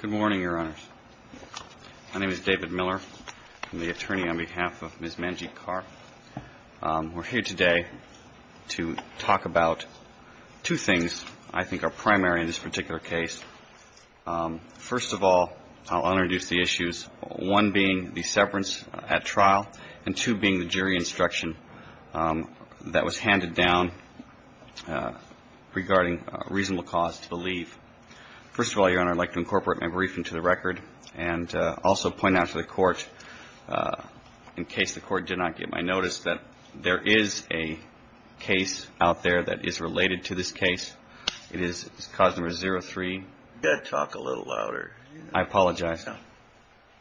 Good morning, Your Honors. My name is David Miller. I'm the attorney on behalf of Ms. Manjeet Kaur. We're here today to talk about two things I think are primary in this particular case. First of all, I'll introduce the issues, one being the severance at trial and two being the jury instruction that was handed down regarding reasonable cause to the legal counsel. First of all, Your Honor, I'd like to incorporate my briefing to the record and also point out to the court, in case the court did not get my notice, that there is a case out there that is related to this case. It is cause number 0-3. You've got to talk a little louder. I apologize.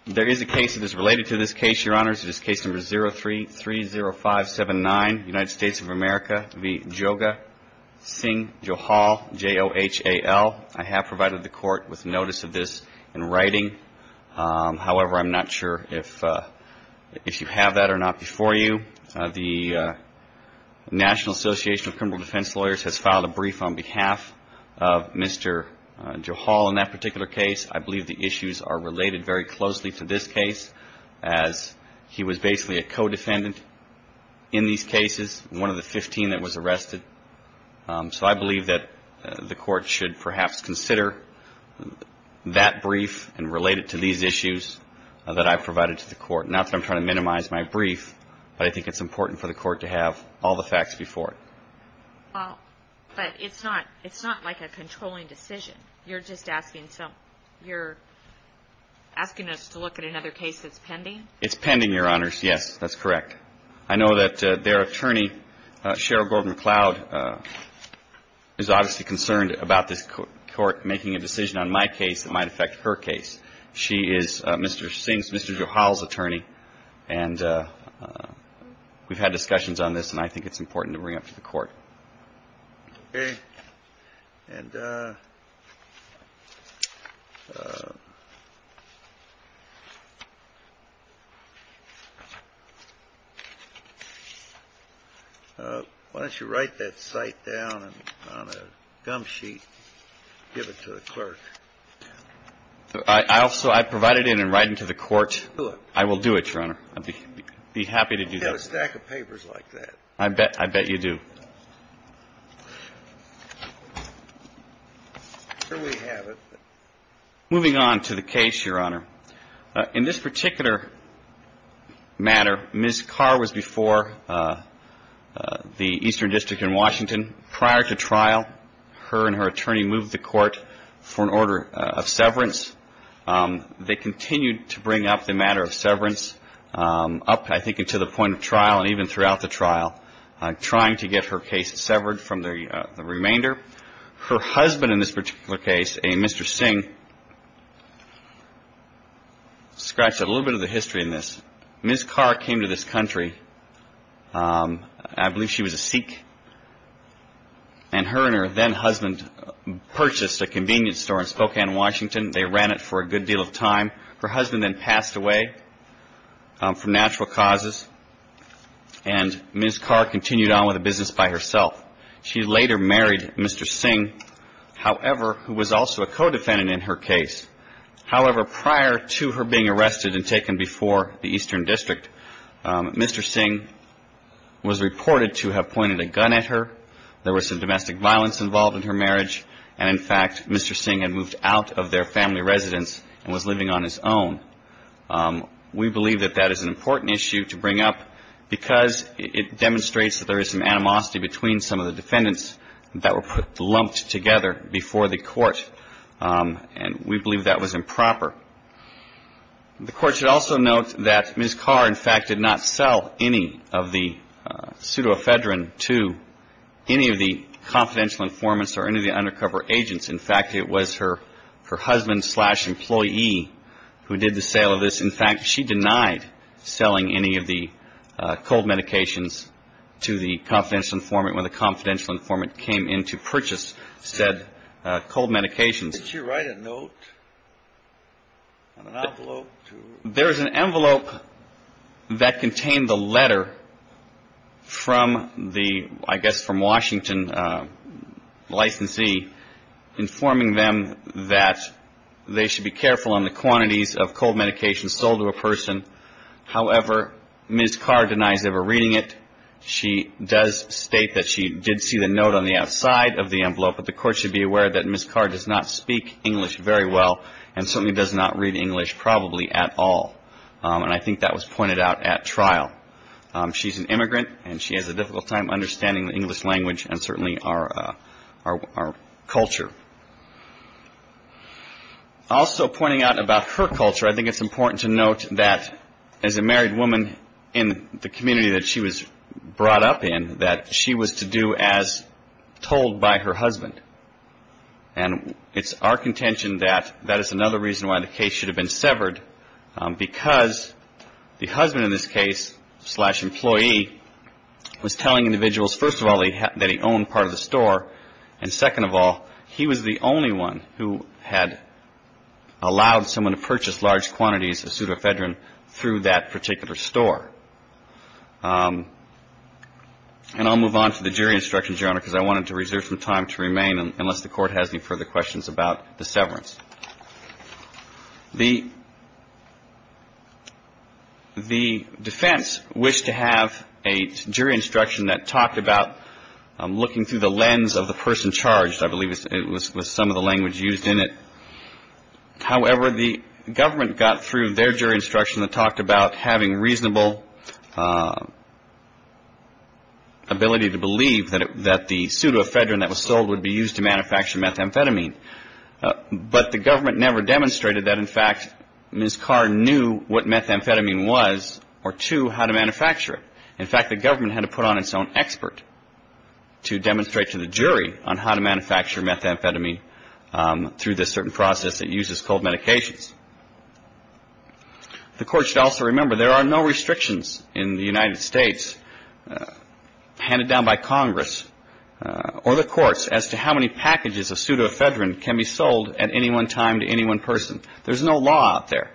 There is a case that is related to this case, Your Honors. It is case number 0-3-3-0-5-7-9, United States of America v. Joga Singh Johal, J-O-H-A-L. I have provided the court with notice of this in writing. However, I'm not sure if you have that or not before you. The National Association of Criminal Defense Lawyers has filed a brief on behalf of Mr. Johal in that particular case. I believe the issues are related very closely to this case, as he was basically a co-defendant in these cases, one of the 15 that was arrested. So I believe that the court should perhaps consider that brief and relate it to these issues that I provided to the court. Not that I'm trying to minimize my brief, but I think it's important for the court to have all the facts before it. Well, but it's not like a controlling decision. You're just asking us to look at another case that's pending? It's pending, Your Honors. Yes, that's correct. I know that their attorney, Sheryl Gordon McLeod, is obviously concerned about this court making a decision on my case that might affect her case. She is Mr. Johal's attorney, and we've had discussions on this, and I think it's important to bring it up to the court. Okay. And why don't you write that cite down on a gum sheet and give it to the clerk? I also provided it in writing to the court. Do it. I will do it, Your Honor. I'd be happy to do that. You don't have a stack of papers like that. I bet you do. Here we have it. Moving on to the case, Your Honor. In this particular matter, Ms. Carr was before the Eastern District in Washington. Prior to trial, her and her attorney moved the court for an order of severance. They continued to bring up the matter of severance up, I think, into the point of trial and even throughout the trial, trying to get her case severed from the remainder. Her husband in this particular case, a Mr. Singh, scratched a little bit of the history in this. Ms. Carr came to this country. I believe she was a Sikh. And her and her then-husband purchased a convenience store in Spokane, Washington. They ran it for a good deal of time. Her husband then passed away from natural causes, and Ms. Carr continued on with the business by herself. She later married Mr. Singh, however, who was also a co-defendant in her case. However, prior to her being arrested and taken before the Eastern District, Mr. Singh was reported to have pointed a gun at her. There was some domestic violence involved in her marriage. And, in fact, Mr. Singh had moved out of their family residence and was living on his own. We believe that that is an important issue to bring up because it demonstrates that there is some animosity between some of the defendants that were lumped together before the court, and we believe that was improper. The court should also note that Ms. Carr, in fact, did not sell any of the pseudoephedrine to any of the confidential informants or any of the undercover agents. In fact, it was her husband-slash-employee who did the sale of this. In fact, she denied selling any of the cold medications to the confidential informant when the confidential informant came in to purchase said cold medications. Did she write a note on an envelope? There is an envelope that contained the letter from the, I guess, from Washington licensee informing them that they should be careful on the quantities of cold medications sold to a person. However, Ms. Carr denies ever reading it. She does state that she did see the note on the outside of the envelope, but the court should be aware that Ms. Carr does not speak English very well and certainly does not read English probably at all, and I think that was pointed out at trial. She's an immigrant, and she has a difficult time understanding the English language and certainly our culture. Also pointing out about her culture, I think it's important to note that as a married woman in the community that she was brought up in, that she was to do as told by her husband, and it's our contention that that is another reason why the case should have been severed because the husband in this case-slash-employee was telling individuals, first of all, that he owned part of the store, and second of all, he was the only one who had allowed someone to purchase large quantities of pseudoephedrine through that particular store. And I'll move on to the jury instructions, Your Honor, because I wanted to reserve some time to remain unless the court has any further questions about the severance. The defense wished to have a jury instruction that talked about looking through the lens of the person charged. I believe it was some of the language used in it. However, the government got through their jury instruction that talked about having reasonable ability to believe that the pseudoephedrine that was sold would be used to manufacture methamphetamine. But the government never demonstrated that, in fact, Ms. Carr knew what methamphetamine was or, two, how to manufacture it. In fact, the government had to put on its own expert to demonstrate to the jury on how to manufacture methamphetamine through this certain process that uses cold medications. The court should also remember there are no restrictions in the United States handed down by Congress or the courts as to how many packages of pseudoephedrine can be sold at any one time to any one person. There's no law out there.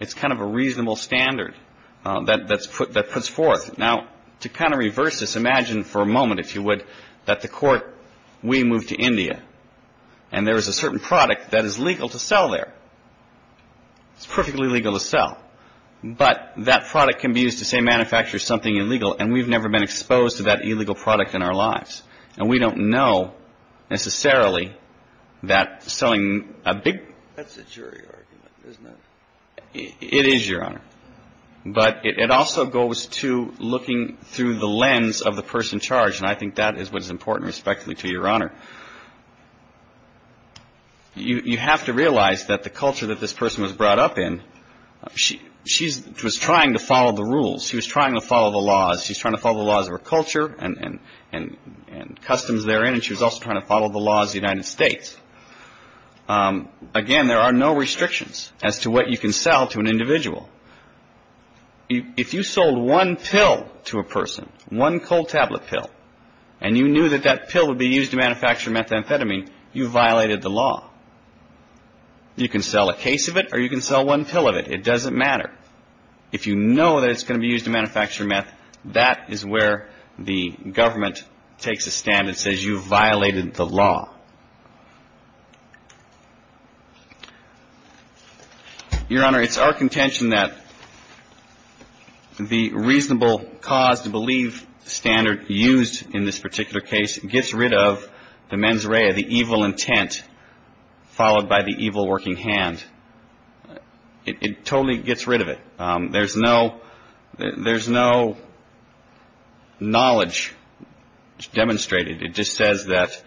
It's kind of a reasonable standard that puts forth. Now, to kind of reverse this, imagine for a moment, if you would, that the court, we move to India, and there is a certain product that is legal to sell there. It's perfectly legal to sell. But that product can be used to, say, manufacture something illegal, and we've never been exposed to that illegal product in our lives. And we don't know necessarily that selling a big. That's a jury argument, isn't it? It is, Your Honor. But it also goes to looking through the lens of the person charged, and I think that is what is important, respectfully, to Your Honor. You have to realize that the culture that this person was brought up in, she was trying to follow the rules. She was trying to follow the laws. She was trying to follow the laws of her culture and customs therein, and she was also trying to follow the laws of the United States. Again, there are no restrictions as to what you can sell to an individual. If you sold one pill to a person, one cold tablet pill, and you knew that that pill would be used to manufacture methamphetamine, you violated the law. You can sell a case of it, or you can sell one pill of it. It doesn't matter. If you know that it's going to be used to manufacture meth, that is where the government takes a stand and says you violated the law. Your Honor, it's our contention that the reasonable cause to believe standard used in this particular case gets rid of the mens rea, the evil intent, followed by the evil working hand. It totally gets rid of it. There's no knowledge demonstrated. It just says that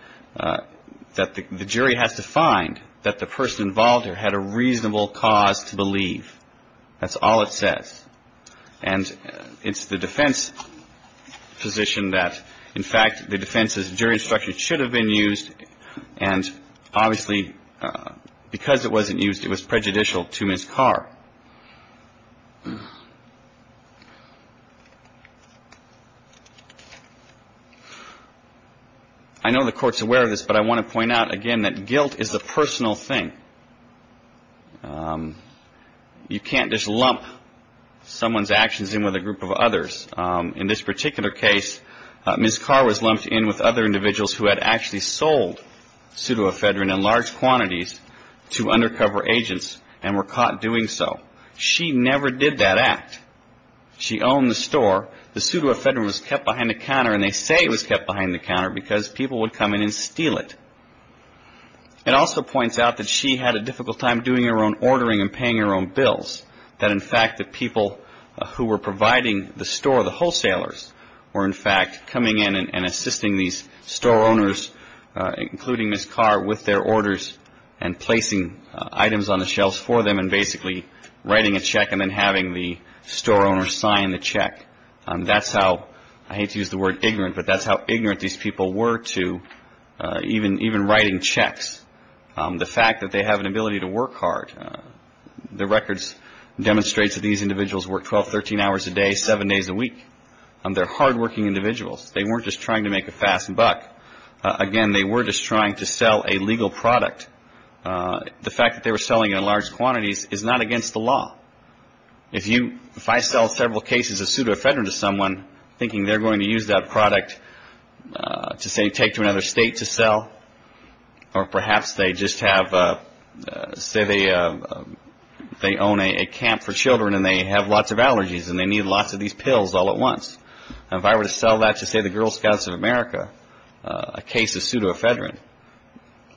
the jury has to find that the person involved here had a reasonable cause to believe. That's all it says. And it's the defense position that, in fact, the defense's jury instruction should have been used, and obviously because it wasn't used, it was prejudicial to Ms. Carr. I know the Court's aware of this, but I want to point out again that guilt is a personal thing. You can't just lump someone's actions in with a group of others. In this particular case, Ms. Carr was lumped in with other individuals who had actually sold pseudoephedrine in large quantities to undercover agents and were caught doing so. She never did that act. She owned the store. The pseudoephedrine was kept behind the counter, and they say it was kept behind the counter because people would come in and steal it. It also points out that she had a difficult time doing her own ordering and paying her own bills, that, in fact, the people who were providing the store, the wholesalers, were, in fact, coming in and assisting these store owners, including Ms. Carr, with their orders and placing items on the shelves for them and basically writing a check and then having the store owner sign the check. That's how, I hate to use the word ignorant, but that's how ignorant these people were to even writing checks, the fact that they have an ability to work hard. The records demonstrate that these individuals worked 12, 13 hours a day, seven days a week. They're hardworking individuals. They weren't just trying to make a fast buck. Again, they were just trying to sell a legal product. The fact that they were selling in large quantities is not against the law. If I sell several cases of pseudoephedrine to someone thinking they're going to use that product to, say, they own a camp for children and they have lots of allergies and they need lots of these pills all at once, if I were to sell that to, say, the Girl Scouts of America, a case of pseudoephedrine,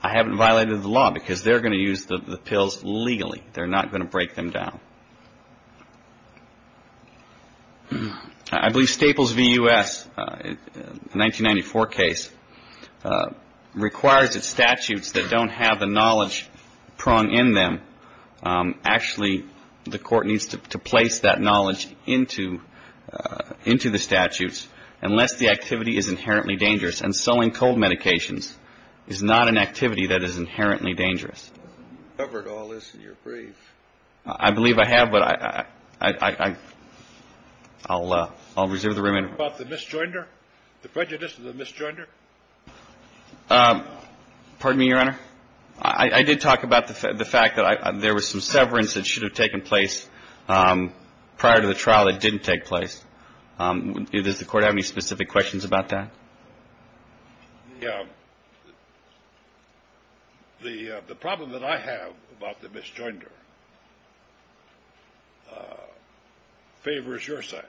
I haven't violated the law because they're going to use the pills legally. They're not going to break them down. I believe Staples v. U.S., a 1994 case, requires that statutes that don't have the knowledge pronged in them, actually the court needs to place that knowledge into the statutes unless the activity is inherently dangerous. And selling cold medications is not an activity that is inherently dangerous. You covered all this in your brief. I believe I have, but I'll reserve the room. What about the misjoinder, the prejudice of the misjoinder? Pardon me, Your Honor. I did talk about the fact that there was some severance that should have taken place prior to the trial that didn't take place. Does the Court have any specific questions about that? Yeah. The problem that I have about the misjoinder favors your side.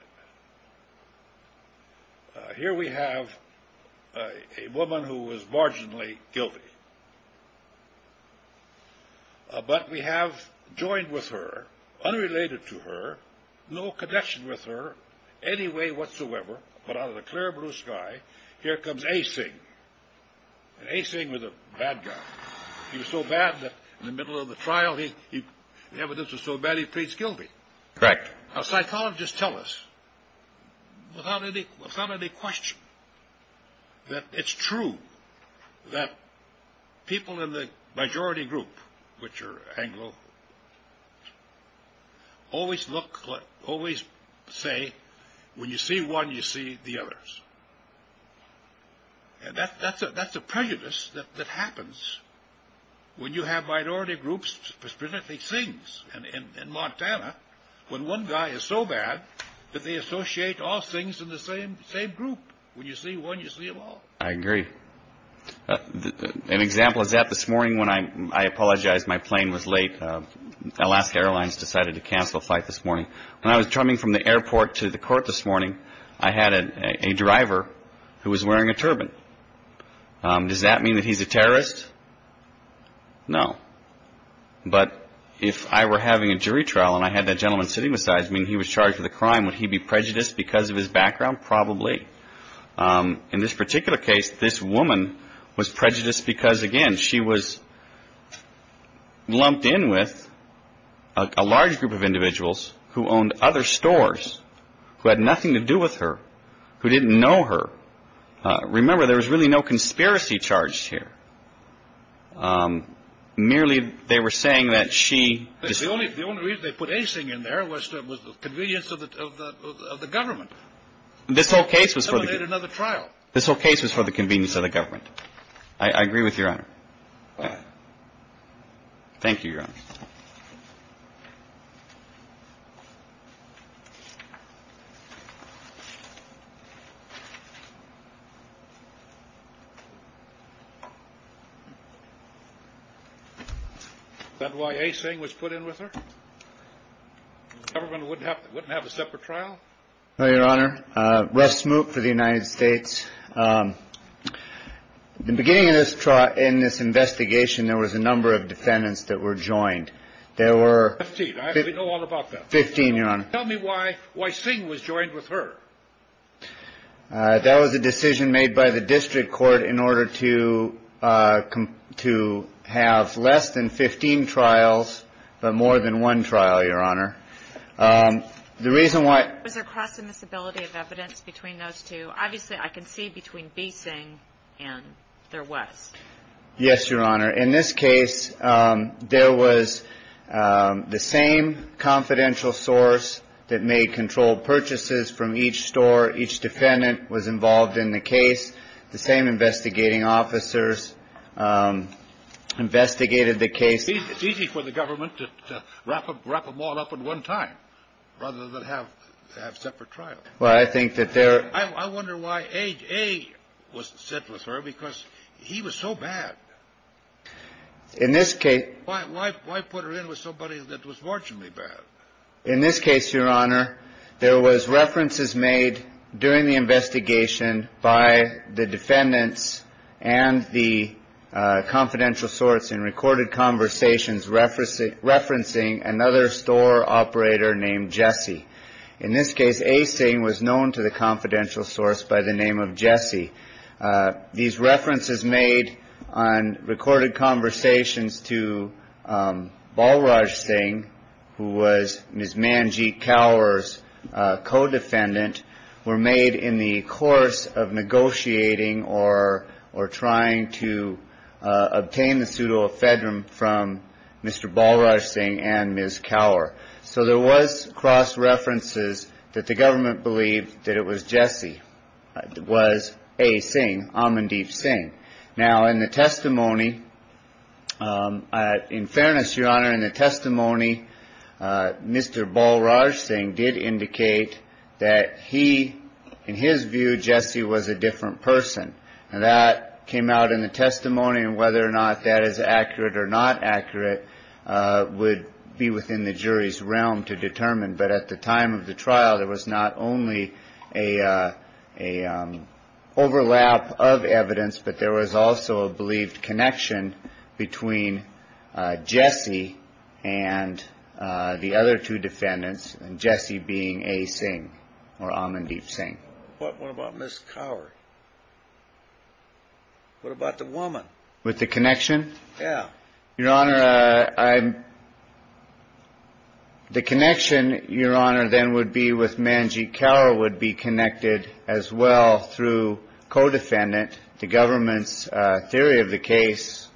Here we have a woman who was marginally guilty, but we have joined with her, unrelated to her, no connection with her any way whatsoever, but out of the clear blue sky, here comes Asing. And Asing was a bad guy. He was so bad that in the middle of the trial, the evidence was so bad he pleads guilty. Correct. Psychologists tell us without any question that it's true that people in the majority group, which are Anglo, always say, when you see one, you see the others. That's a prejudice that happens when you have minority groups prescribing things. In Montana, when one guy is so bad that they associate all things in the same group. When you see one, you see them all. I agree. An example is that this morning when I apologize my plane was late. Alaska Airlines decided to cancel a flight this morning. When I was coming from the airport to the court this morning, I had a driver who was wearing a turban. Does that mean that he's a terrorist? No. But if I were having a jury trial and I had that gentleman sitting beside me and he was charged with a crime, would he be prejudiced because of his background? Probably. In this particular case, this woman was prejudiced because, again, she was lumped in with a large group of individuals who owned other stores, who had nothing to do with her, who didn't know her. Remember, there was really no conspiracy charged here. Merely they were saying that she. The only reason they put anything in there was the convenience of the government. This whole case was for. Another trial. This whole case was for the convenience of the government. I agree with your honor. Thank you. That's why a saying was put in with her. Everyone would have wouldn't have a separate trial. Your honor. Rest smooth for the United States. The beginning of this trial in this investigation, there was a number of defendants that were joined. There were 15. Tell me why. Why sing was joined with her. That was a decision made by the district court in order to come to have less than 15 trials, but more than one trial. Your honor. The reason why. Is there a possibility of evidence between those two? Obviously, I can see between BC and there was. Yes, your honor. In this case, there was the same confidential source that may control purchases from each store. Each defendant was involved in the case. The same investigating officers investigated the case. It's easy for the government to wrap up, wrap them all up at one time rather than have to have separate trial. Well, I think that there. I wonder why a was sent with her because he was so bad in this case. Why put her in with somebody that was fortunately bad. In this case, your honor, there was references made during the investigation by the defendants and the confidential source in recorded conversations. Referencing referencing another store operator named Jesse. In this case, a saying was known to the confidential source by the name of Jesse. These references made on recorded conversations to Balraj Singh, who was Ms. Manjit cowers, co-defendant were made in the course of negotiating or or trying to obtain the pseudo Ephedram from Mr. Balraj Singh and Ms. Tower. So there was cross references that the government believed that it was Jesse. It was a saying Amandeep Singh. Now, in the testimony. In fairness, your honor, in the testimony, Mr. Balraj Singh did indicate that he, in his view, Jesse was a different person. That came out in the testimony and whether or not that is accurate or not accurate would be within the jury's realm to determine. But at the time of the trial, there was not only a a overlap of evidence, but there was also a believed connection between Jesse and the other two defendants. And Jesse being a Singh or Amandeep Singh. What about Miss Tower? What about the woman with the connection? Yeah, your honor. The connection, your honor, then would be with Manjit cower would be connected as well through co-defendant to government's theory of the case.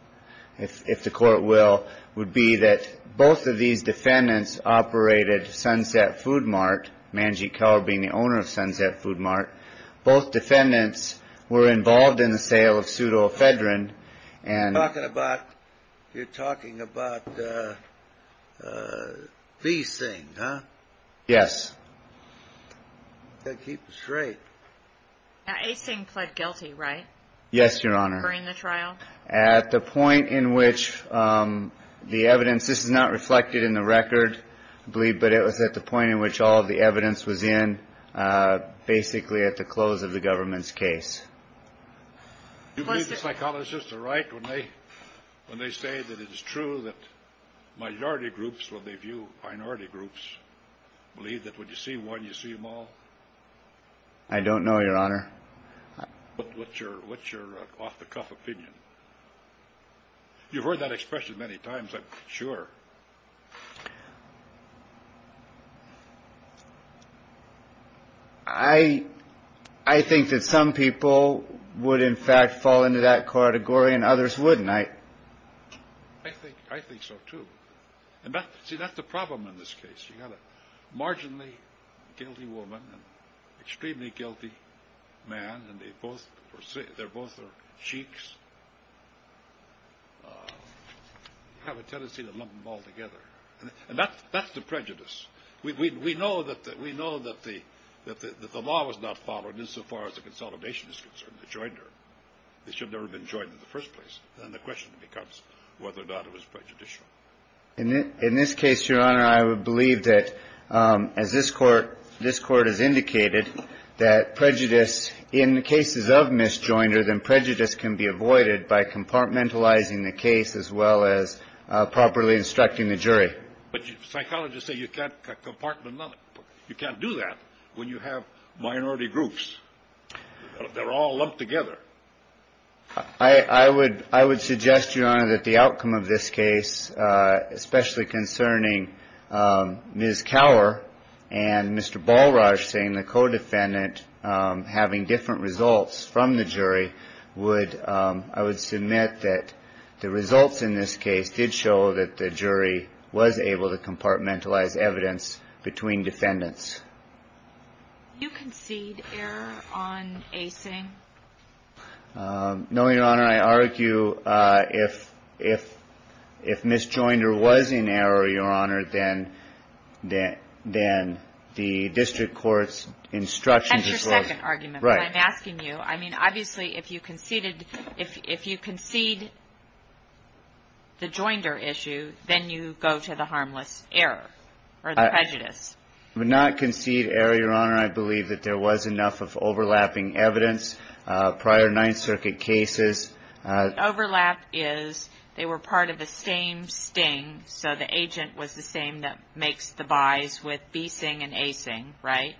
If the court will would be that both of these defendants operated Sunset Food Mart. Manjit cower being the owner of Sunset Food Mart. Both defendants were involved in the sale of pseudo Ephedra. And talking about you're talking about these things. Yes. Keep straight. Singh pled guilty, right? Yes, your honor. During the trial at the point in which the evidence is not reflected in the record, I believe. But it was at the point in which all of the evidence was in basically at the close of the government's case. Psychologists are right when they when they say that it is true that majority groups will give you minority groups. Believe that when you see one, you see them all. I don't know, your honor. What's your what's your off the cuff opinion? You've heard that expression many times. Sure. I, I think that some people would, in fact, fall into that category and others wouldn't. I think I think so, too. See, that's the problem in this case. You got a marginally guilty woman and extremely guilty man. And they both say they're both sheiks. Have a tendency to lump them all together. And that's that's the prejudice. We know that that we know that the that the law was not followed insofar as the consolidation is concerned. The joiner. They should never have been joined in the first place. And the question becomes whether or not it was prejudicial. In this case, your honor, I would believe that as this court, this court has indicated that prejudice in the cases of Miss Joiner, then prejudice can be avoided by compartmentalizing the case as well as properly instructing the jury. But psychologists say you can't compartmentalize. You can't do that when you have minority groups. They're all lumped together. I would I would suggest, your honor, that the outcome of this case, especially concerning Ms. Cower and Mr. Balraj saying the codefendant having different results from the jury would. I would submit that the results in this case did show that the jury was able to compartmentalize evidence between defendants. You concede error on a thing. No, your honor. I argue if if if Miss Joiner was in error, your honor, then that then the district court's instructions. Right. I'm asking you. I mean, obviously, if you conceded if you concede. The Joiner issue, then you go to the harmless error or the prejudice would not concede error, your honor. I believe that there was enough of overlapping evidence prior Ninth Circuit cases. Overlap is they were part of the same sting. So the agent was the same. That makes the buys with Beeson and Asing. Right.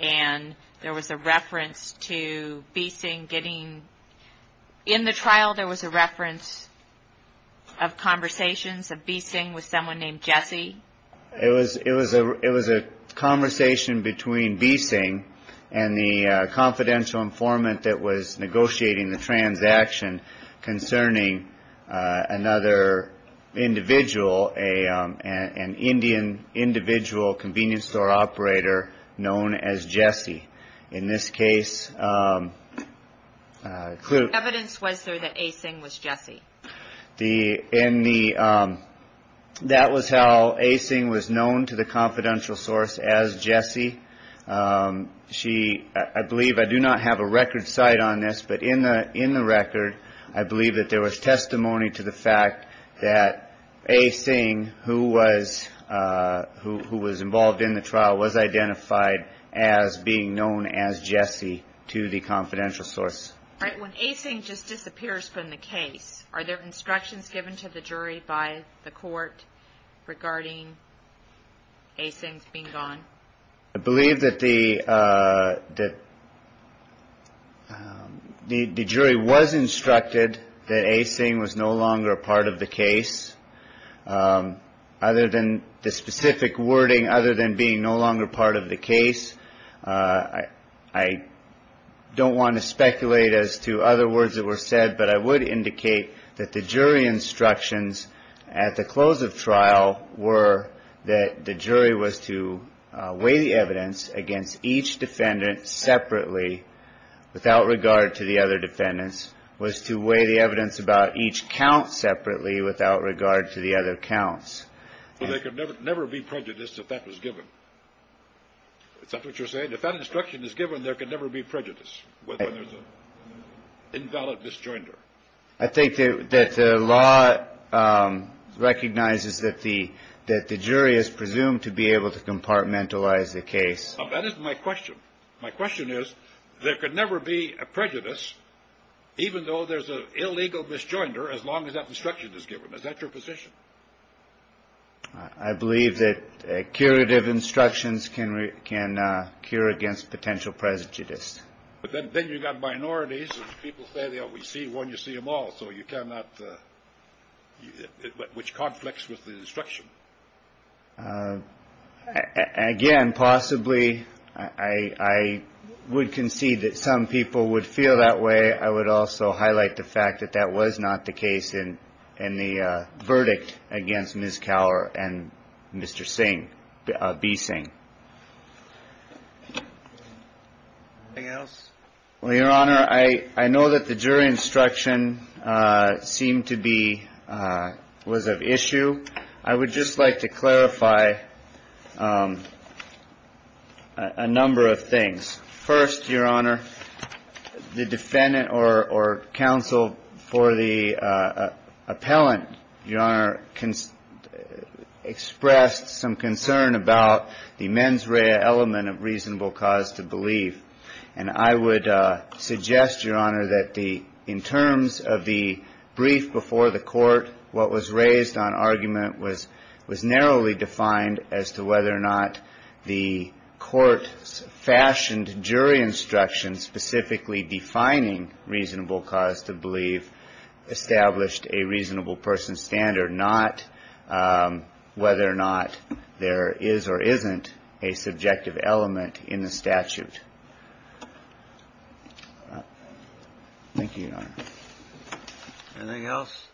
And there was a reference to Beeson getting in the trial. There was a reference of conversations of Beeson with someone named Jesse. It was it was a it was a conversation between Beeson and the confidential informant that was negotiating the transaction concerning another individual, a an Indian individual convenience store operator known as Jesse. In this case, the evidence was there that Asing was Jesse. The in the that was how Asing was known to the confidential source as Jesse. She I believe I do not have a record site on this, but in the in the record, I believe that there was testimony to the fact that Asing, who was who was involved in the trial, was identified as being known as Jesse to the confidential source. All right. When Asing just disappears from the case, are there instructions given to the jury by the court regarding Asing being gone? I believe that the that the jury was instructed that Asing was no longer a part of the case other than the specific wording, other than being no longer part of the case. I don't want to speculate as to other words that were said, but I would indicate that the jury instructions at the close of trial were that the jury was to weigh the evidence against each defendant separately without regard to the other defendants, was to weigh the evidence about each count separately without regard to the other counts. So they could never, never be prejudiced if that was given. Is that what you're saying? If that instruction is given, there could never be prejudice when there's an invalid misjoinder. I think that the law recognizes that the that the jury is presumed to be able to compartmentalize the case. That is my question. My question is, there could never be a prejudice, even though there's an illegal misjoinder, as long as that instruction is given. Is that your position? I believe that curative instructions can can cure against potential prejudice. But then you've got minorities. People say they only see one. You see them all. So you cannot. Which conflicts with the instruction. Again, possibly I would concede that some people would feel that way. I would also highlight the fact that that was not the case in in the verdict against Ms. Cowher and Mr. Singh B. Singh. Well, Your Honor, I know that the jury instruction seemed to be was of issue. I would just like to clarify a number of things. First, Your Honor, the defendant or counsel for the appellant. Your Honor can express some concern about the mens rea element of reasonable cause to believe. And I would suggest, Your Honor, that the in terms of the brief before the court, what was raised on argument was was narrowly defined as to whether or not the court fashioned jury instructions, specifically defining reasonable cause to believe established a reasonable person standard, not whether or not there is or isn't a subjective element in the statute. Thank you, Your Honor. Anything else?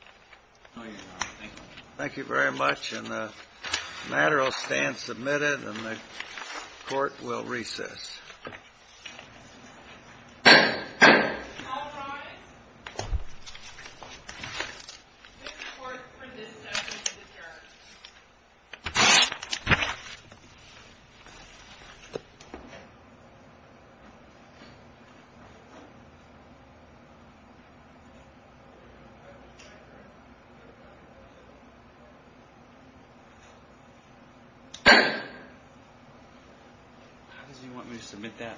No, Your Honor. Thank you. Thank you very much. And the matter will stand submitted and the court will recess. All right. For this. You want me to submit that?